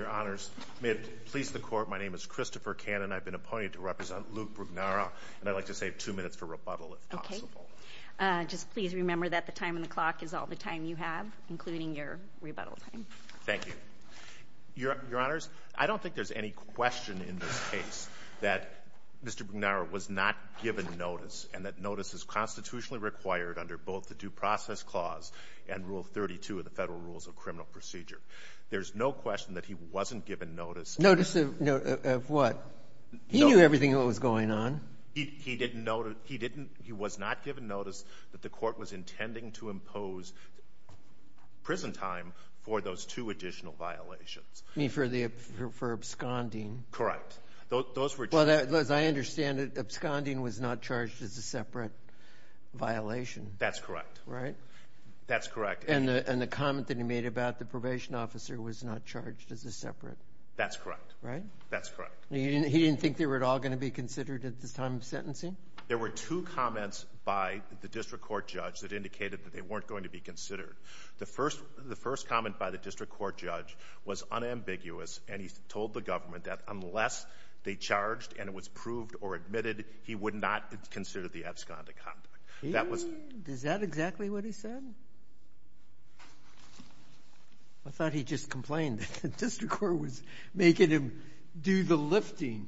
Your Honors, may it please the Court, my name is Christopher Cannon. I've been appointed to represent Luke Brugnara, and I'd like to save two minutes for rebuttal, if possible. Okay. Just please remember that the time on the clock is all the time you have, including your rebuttal time. Thank you. Your Honors, I don't think there's any question in this case that Mr. Brugnara was not given notice, and that notice is constitutionally required under both the Due Process Clause and Rule 32 of the Federal Rules of Criminal Procedure. There's no question that he wasn't given notice. Notice of what? He knew everything that was going on. He didn't know to – he didn't – he was not given notice that the Court was intending to impose prison time for those two additional violations. You mean for the – for absconding? Correct. Those were two – Well, as I understand it, absconding was not charged as a separate violation. That's correct. Right? That's correct. And the comment that he made about the probation officer was not charged as a separate. That's correct. Right? That's correct. He didn't think they were at all going to be considered at this time of sentencing? There were two comments by the district court judge that indicated that they weren't going to be considered. The first – the first comment by the district court judge was unambiguous, and he told the government that unless they charged and it was proved or admitted, he would not consider the absconding conduct. That was – Is that exactly what he said? I thought he just complained that the district court was making him do the lifting.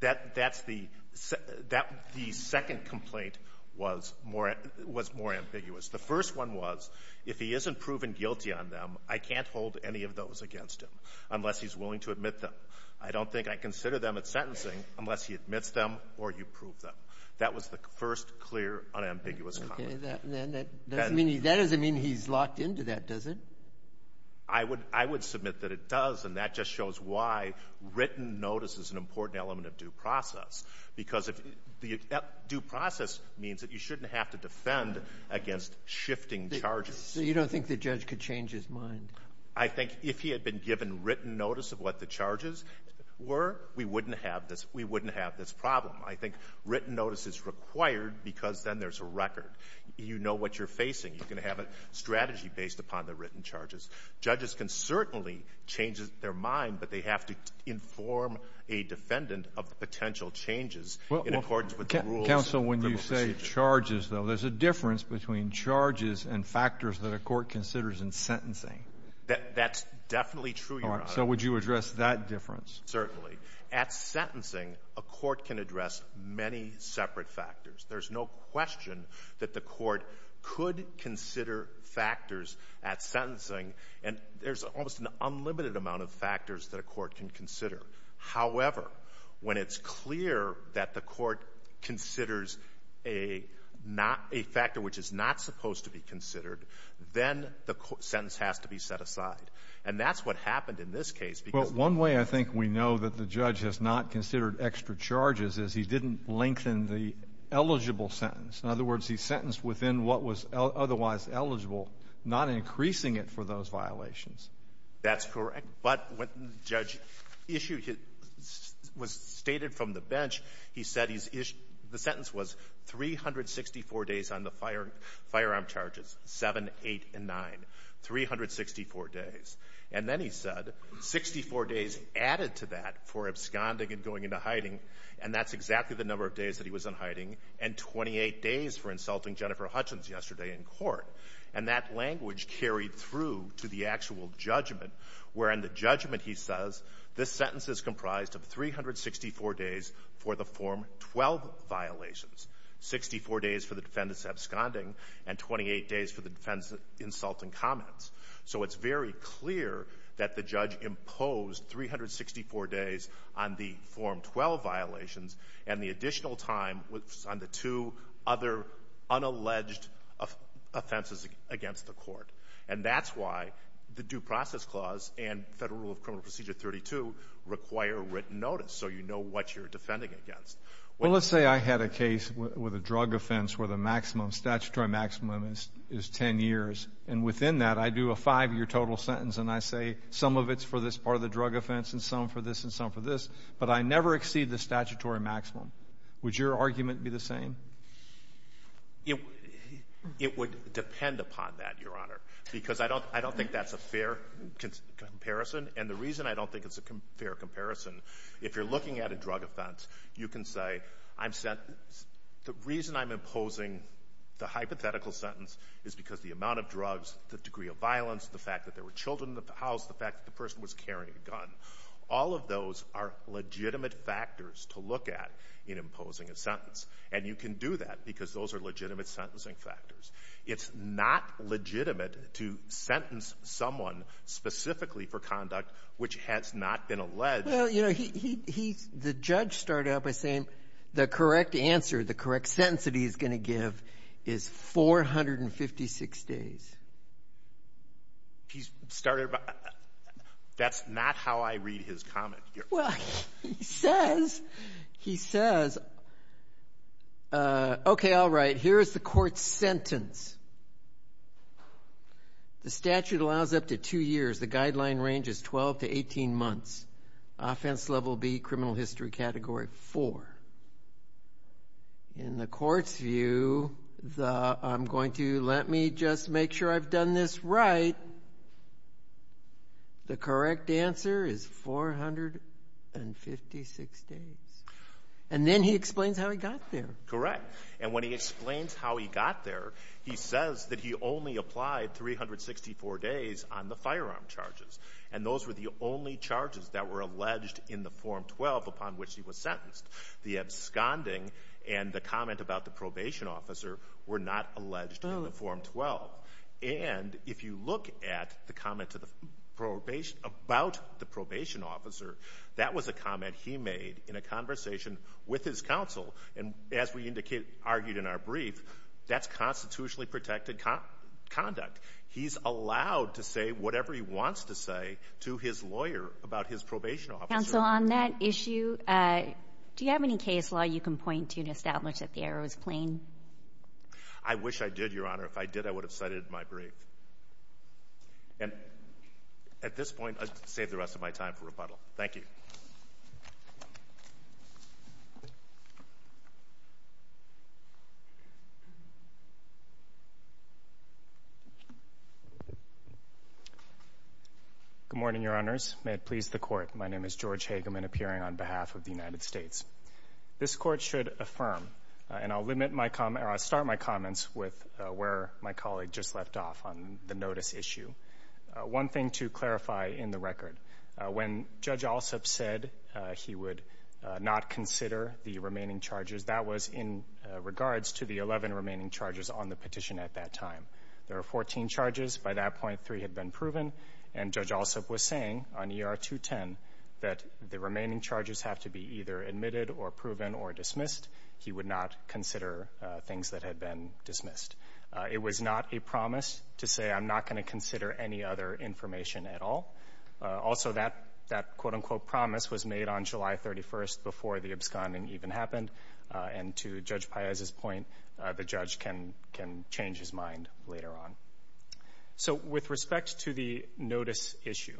That – that's the – that – the second complaint was more – was more ambiguous. The first one was, if he isn't proven guilty on them, I can't hold any of those against him unless he's willing to admit them. I don't think I consider them at sentencing unless he admits them or you prove them. That was the first clear, unambiguous comment. Okay. Then that doesn't mean he – that doesn't mean he's locked into that, does it? I would – I would submit that it does, and that just shows why written notice is an important element of due process. Because if – due process means that you shouldn't have to defend against shifting charges. So you don't think the judge could change his mind? I think if he had been given written notice of what the charges were, we wouldn't have this – we wouldn't have this problem. I think written notice is required because then there's a record. You know what you're facing. You can have a strategy based upon the written charges. Judges can certainly change their mind, but they have to inform a defendant of the potential changes in accordance with the rules. Counsel, when you say charges, though, there's a difference between charges and factors that a court considers in sentencing. That's definitely true, Your Honor. So would you address that difference? Certainly. At sentencing, a court can address many separate factors. There's no question that the court could consider factors at sentencing. And there's almost an unlimited amount of factors that a court can consider. However, when it's clear that the court considers a not – a factor which is not supposed to be considered, then the sentence has to be set aside. And that's what happened in this case because the court – The reason that the judge has not considered extra charges is he didn't lengthen the eligible sentence. In other words, he sentenced within what was otherwise eligible, not increasing it for those violations. That's correct. But when the judge issued his – was stated from the bench, he said he's – the sentence was 364 days on the firearm charges, 7, 8, and 9, 364 days. And then he said 64 days added to that for absconding and going into hiding, and that's exactly the number of days that he was in hiding, and 28 days for insulting Jennifer Hutchins yesterday in court. And that language carried through to the actual judgment, wherein the judgment, he says, this sentence is comprised of 364 days for the Form 12 violations, 64 days for the defendant's absconding, and 28 days for the defendant's insulting comments. So it's very clear that the judge imposed 364 days on the Form 12 violations and the additional time on the two other unalleged offenses against the court. And that's why the Due Process Clause and Federal Rule of Criminal Procedure 32 require written notice so you know what you're defending against. Well, let's say I had a case with a drug offense where the maximum statutory maximum is 10 years, and within that I do a five-year total sentence and I say some of it's for this part of the drug offense and some for this and some for this, but I never exceed the statutory maximum. Would your argument be the same? It would depend upon that, Your Honor, because I don't think that's a fair comparison. And the reason I don't think it's a fair comparison, if you're looking at a drug offense, you can say I'm sentenced. The reason I'm imposing the hypothetical sentence is because the amount of drugs, the degree of violence, the fact that there were children in the house, the fact that the person was carrying a gun, all of those are legitimate factors to look at in imposing a sentence. And you can do that because those are legitimate sentencing factors. It's not legitimate to sentence someone specifically for conduct which has not been alleged. Well, you know, the judge started out by saying the correct answer, the correct sentence that he's going to give is 456 days. He started by—that's not how I read his comment. Well, he says, he says, okay, all right, here is the court's sentence. The statute allows up to two years. The guideline range is 12 to 18 months. Offense level B, criminal history category, four. In the court's view, I'm going to—let me just make sure I've done this right. The correct answer is 456 days. And then he explains how he got there. Correct. And when he explains how he got there, he says that he only applied 364 days on the firearm charges. And those were the only charges that were alleged in the Form 12 upon which he was sentenced. The absconding and the comment about the probation officer were not alleged in the Form 12. And if you look at the comment about the probation officer, that was a brief, that's constitutionally protected conduct. He's allowed to say whatever he wants to say to his lawyer about his probation officer. Counsel, on that issue, do you have any case law you can point to to establish that the error was plain? I wish I did, Your Honor. If I did, I would have cited it in my brief. And at this point, I'll save the rest of my time for rebuttal. Thank you. Thank you. Good morning, Your Honors. May it please the Court, my name is George Hageman, appearing on behalf of the United States. This Court should affirm, and I'll limit my comment, or I'll start my comments with where my colleague just left off on the notice issue. One thing to clarify in the record, when Judge Alsup said he would not consider the remaining charges, that was in regards to the 11 remaining charges on the petition at that time. There were 14 charges. By that point, three had been proven. And Judge Alsup was saying on ER 210 that the remaining charges have to be either admitted or proven or dismissed. He would not consider things that had been dismissed. It was not a promise to say, I'm not going to consider any other information at all. Also, that quote-unquote promise was made on July 31st before the absconding even happened. And to Judge Paez's point, the judge can change his mind later on. So with respect to the notice issue,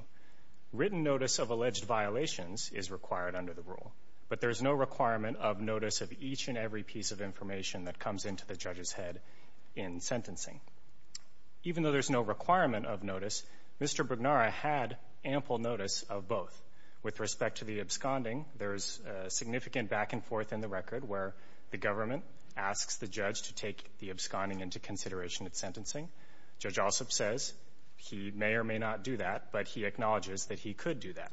written notice of alleged violations is required under the rule. But there's no requirement of notice of each and every piece of information that comes into the judge's head in sentencing. Even though there's no requirement of notice, Mr. Brugnara had ample notice of both. With respect to the absconding, there's significant back and forth in the record where the government asks the judge to take the absconding into consideration at sentencing. Judge Alsup says he may or may not do that, but he acknowledges that he could do that.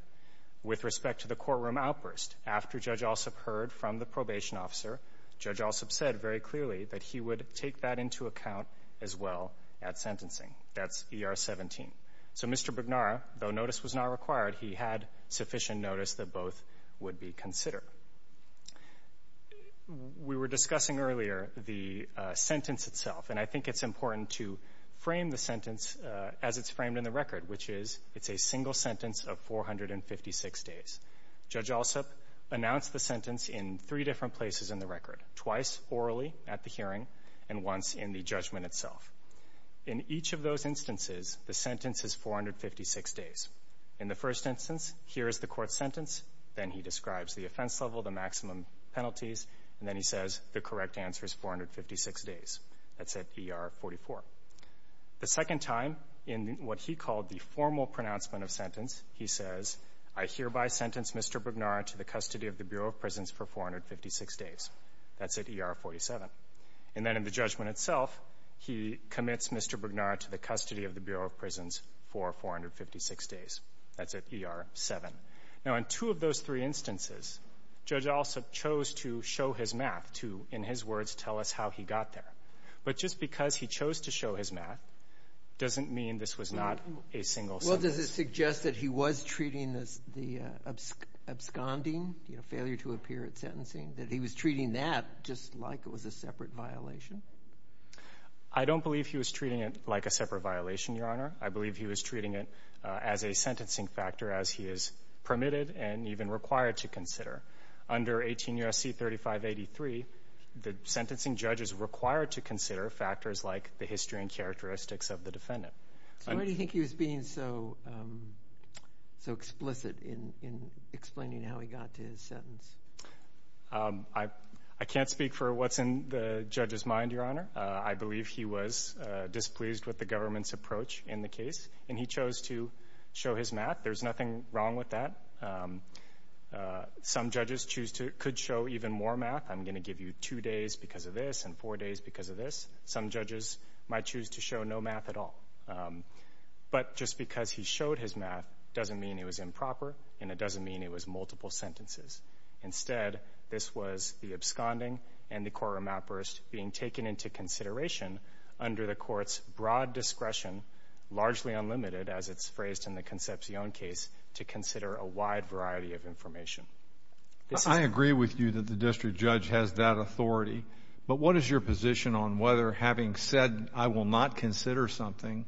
With respect to the courtroom outburst, after Judge Alsup heard from the probation officer, Judge Alsup said very clearly that he would take that into account as well at sentencing. That's ER 17. So Mr. Brugnara, though notice was not required, he had sufficient notice that both would be considered. We were discussing earlier the sentence itself, and I think it's important to frame the sentence as it's framed in the record, which is it's a single sentence of 456 days. Judge Alsup announced the sentence in three different places in the record, twice orally at the hearing and once in the judgment itself. In each of those instances, the sentence is 456 days. In the first instance, here is the court's sentence. Then he describes the offense level, the maximum penalties, and then he says the correct answer is 456 days. That's at ER 44. The second time, in what he called the formal pronouncement of sentence, he says, I hereby sentence Mr. Brugnara to the custody of the Bureau of Prisons for 456 days. That's at ER 47. And then in the judgment itself, he commits Mr. Brugnara to the custody of the Bureau of Prisons for 456 days. That's at ER 7. Now, in two of those three instances, Judge Alsup chose to show his math to, in his words, tell us how he got there. But just because he chose to show his math doesn't mean this was not a single sentence. So how does this suggest that he was treating the absconding, you know, failure to appear at sentencing, that he was treating that just like it was a separate violation? I don't believe he was treating it like a separate violation, Your Honor. I believe he was treating it as a sentencing factor as he is permitted and even required to consider. Under 18 U.S.C. 3583, the sentencing judge is required to consider factors like the history and characteristics of the defendant. So why do you think he was being so explicit in explaining how he got to his sentence? I can't speak for what's in the judge's mind, Your Honor. I believe he was displeased with the government's approach in the case, and he chose to show his math. There's nothing wrong with that. Some judges could show even more math. I'm going to give you two days because of this and four days because of this. Some judges might choose to show no math at all. But just because he showed his math doesn't mean it was improper and it doesn't mean it was multiple sentences. Instead, this was the absconding and the core remapperist being taken into consideration under the court's broad discretion, largely unlimited as it's phrased in the Concepcion case, to consider a wide variety of information. I agree with you that the district judge has that authority. But what is your position on whether having said, I will not consider something,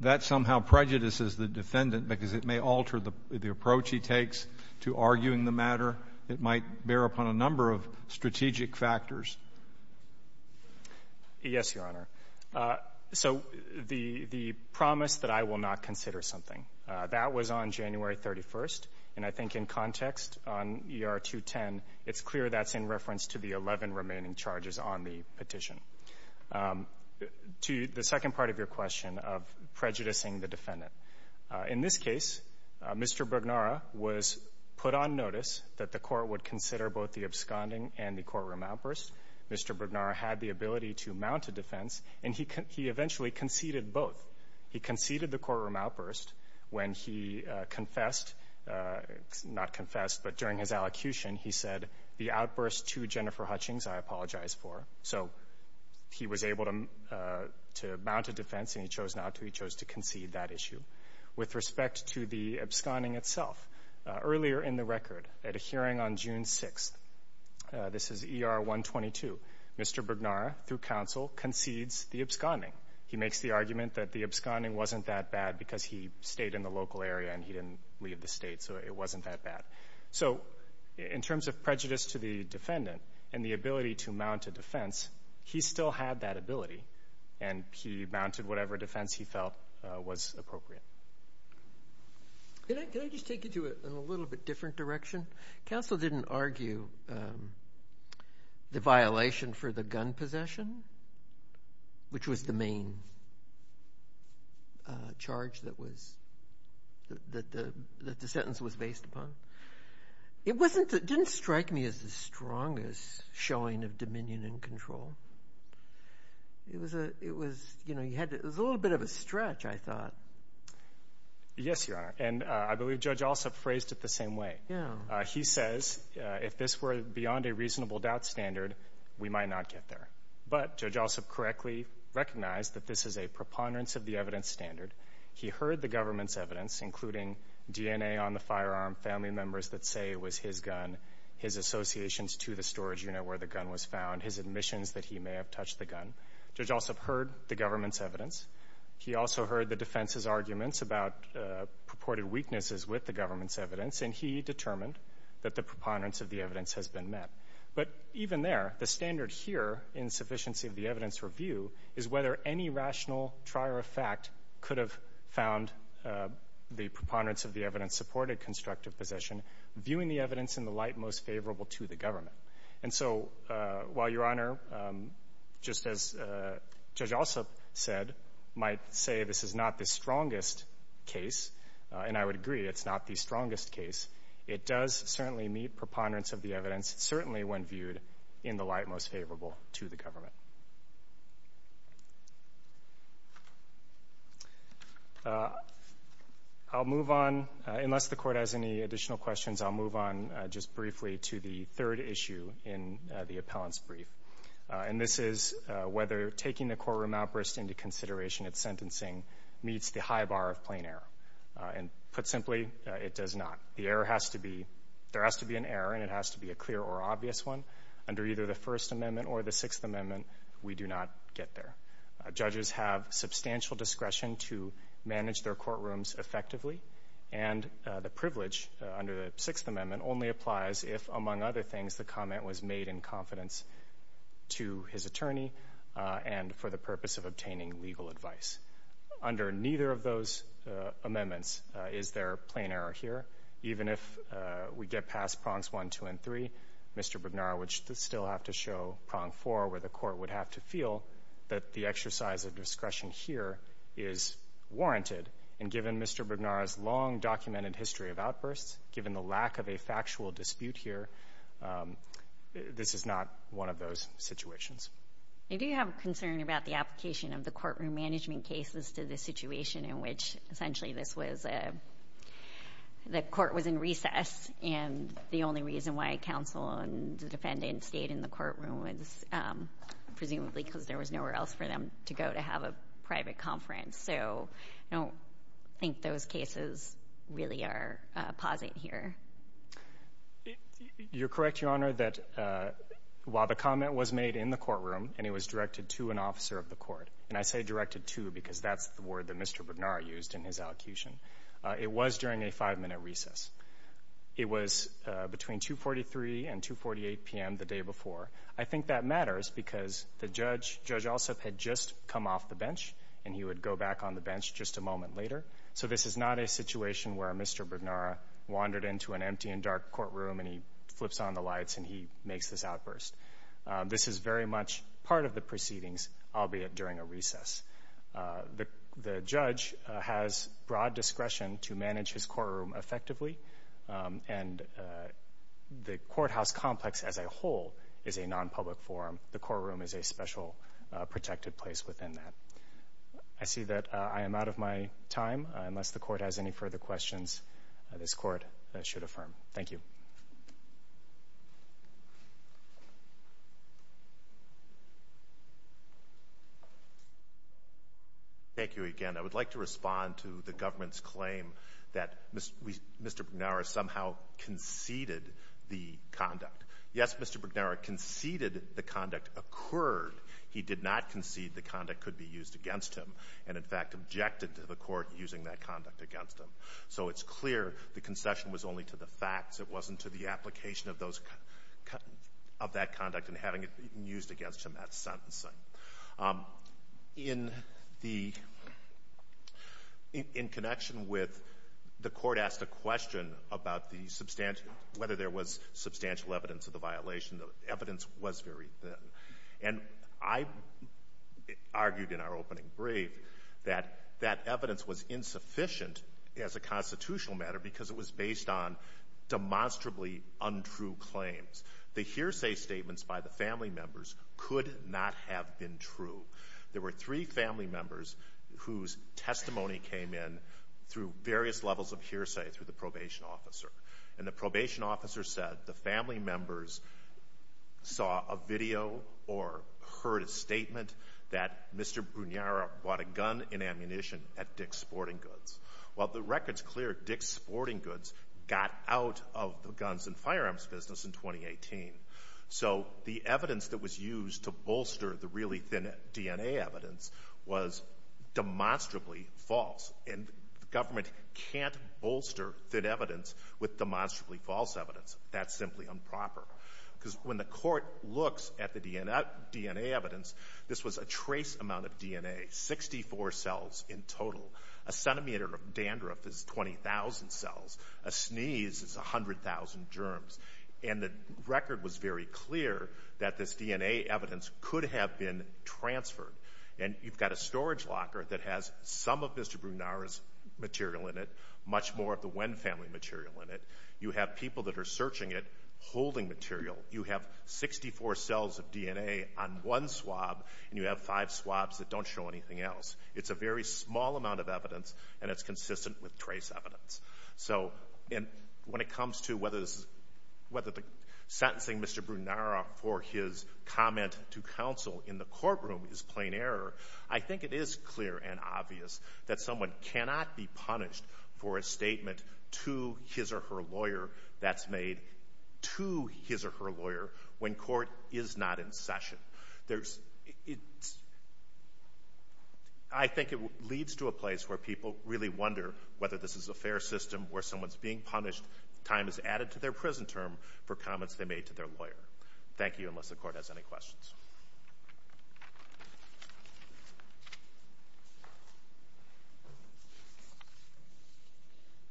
that somehow prejudices the defendant because it may alter the approach he takes to arguing the matter? It might bear upon a number of strategic factors. Yes, Your Honor. So the promise that I will not consider something, that was on January 31st. And I think in context on ER 210, it's clear that's in reference to the 11 remaining charges on the petition. To the second part of your question of prejudicing the defendant, in this case, Mr. Brugnara was put on notice that the court would consider both the absconding and the core remapperist. Mr. Brugnara had the ability to mount a defense, and he eventually conceded both. He conceded the core remapperist when he confessed, not confessed, but during his allocution, he said the outburst to Jennifer Hutchings, I apologize for. So he was able to mount a defense, and he chose not to. He chose to concede that issue. With respect to the absconding itself, earlier in the record, at a hearing on June 6th, this is ER 122, Mr. Brugnara, through counsel, concedes the absconding. He makes the argument that the absconding wasn't that bad because he stayed in the local area and he didn't leave the state, so it wasn't that bad. So in terms of prejudice to the defendant and the ability to mount a defense, he still had that ability, and he mounted whatever defense he felt was appropriate. Can I just take you to a little bit different direction? Counsel didn't argue the violation for the gun possession, which was the main charge that the sentence was based upon. It didn't strike me as the strongest showing of dominion and control. It was a little bit of a stretch, I thought. Yes, Your Honor, and I believe Judge Alsop phrased it the same way. He says if this were beyond a reasonable doubt standard, we might not get there. But Judge Alsop correctly recognized that this is a preponderance of the evidence standard. He heard the government's evidence, including DNA on the firearm, family members that say it was his gun, his associations to the storage unit where the gun was found, his admissions that he may have touched the gun. Judge Alsop heard the government's evidence. He also heard the defense's arguments about purported weaknesses with the government's evidence and determined that the preponderance of the evidence has been met. But even there, the standard here in sufficiency of the evidence review is whether any rational trier of fact could have found the preponderance of the evidence-supported constructive possession, viewing the evidence in the light most favorable to the government. And so while Your Honor, just as Judge Alsop said, might say this is not the strongest case, and I would agree it's not the strongest case, it does certainly meet preponderance of the evidence, certainly when viewed in the light most favorable to the government. I'll move on. Unless the Court has any additional questions, I'll move on just briefly to the third issue in the appellant's brief. And this is whether taking the courtroom outburst into consideration at sentencing meets the high bar of plain error. And put simply, it does not. The error has to be, there has to be an error, and it has to be a clear or obvious one. Under either the First Amendment or the Sixth Amendment, we do not get there. Judges have substantial discretion to manage their courtrooms effectively, and the privilege under the Sixth Amendment only applies if, among other things, the comment was made in confidence to his attorney and for the purpose of obtaining legal advice. Under neither of those amendments is there plain error here. Even if we get past prongs one, two, and three, Mr. Brugnara would still have to show prong four, where the Court would have to feel that the exercise of discretion here is warranted. And given Mr. Brugnara's long documented history of outbursts, given the lack of a factual dispute here, this is not one of those situations. I do have concern about the application of the courtroom management cases to the situation in which essentially this was a, the court was in recess, and the only reason why counsel and the defendant stayed in the courtroom was presumably because there was nowhere else for them to go to have a private conference. So I don't think those cases really are positive here. You're correct, Your Honor, that while the comment was made in the courtroom and it was directed to an officer of the court, and I say directed to because that's the word that Mr. Brugnara used in his allocution, it was during a five-minute recess. It was between 2.43 and 2.48 p.m. the day before. I think that matters because the judge, Judge Alsup, had just come off the bench, and he would go back on the bench just a moment later. So this is not a situation where Mr. Brugnara wandered into an empty and dark courtroom and he flips on the lights and he makes this outburst. This is very much part of the proceedings, albeit during a recess. The judge has broad discretion to manage his courtroom effectively, and the courthouse complex as a whole is a nonpublic forum. The courtroom is a special protected place within that. I see that I am out of my time. Unless the Court has any further questions, this Court should affirm. Thank you. Thank you again. I would like to respond to the government's claim that Mr. Brugnara somehow conceded the conduct. Yes, Mr. Brugnara conceded the conduct occurred. He did not concede the conduct could be used against him and, in fact, objected to the Court using that conduct against him. So it's clear the concession was only to the facts. It wasn't to the application of those – of that conduct and having it used against him at sentencing. In the – in connection with the Court asked a question about the substantial evidence of the violation. The evidence was very thin. And I argued in our opening brief that that evidence was insufficient as a constitutional matter because it was based on demonstrably untrue claims. The hearsay statements by the family members could not have been true. There were three family members whose testimony came in through various levels of hearsay through the probation officer. And the probation officer said the family members saw a video or heard a statement that Mr. Brugnara brought a gun and ammunition at Dick's Sporting Goods. Well, the record's clear. Dick's Sporting Goods got out of the guns and firearms business in 2018. So the evidence that was used to bolster the really thin DNA evidence was demonstrably false. And the government can't bolster thin evidence with demonstrably false evidence. That's simply improper. Because when the Court looks at the DNA evidence, this was a trace amount of DNA, 64 cells in total. A centimeter of dandruff is 20,000 cells. A sneeze is 100,000 germs. And the record was very clear that this DNA evidence could have been transferred. And you've got a storage locker that has some of Mr. Brugnara's material in it, much more of the Wynn family material in it. You have people that are searching it holding material. You have 64 cells of DNA on one swab, and you have five swabs that don't show anything else. It's a very small amount of evidence, and it's consistent with trace evidence. So when it comes to whether the sentencing Mr. Brugnara for his comment to counsel in the courtroom is plain error, I think it is clear and obvious that someone cannot be punished for a statement to his or her lawyer that's made to his or her lawyer when court is not in session. I think it leads to a place where people really wonder whether this is a fair system where someone's being punished, time is added to their prison term, for comments they made to their lawyer. Thank you, unless the court has any questions.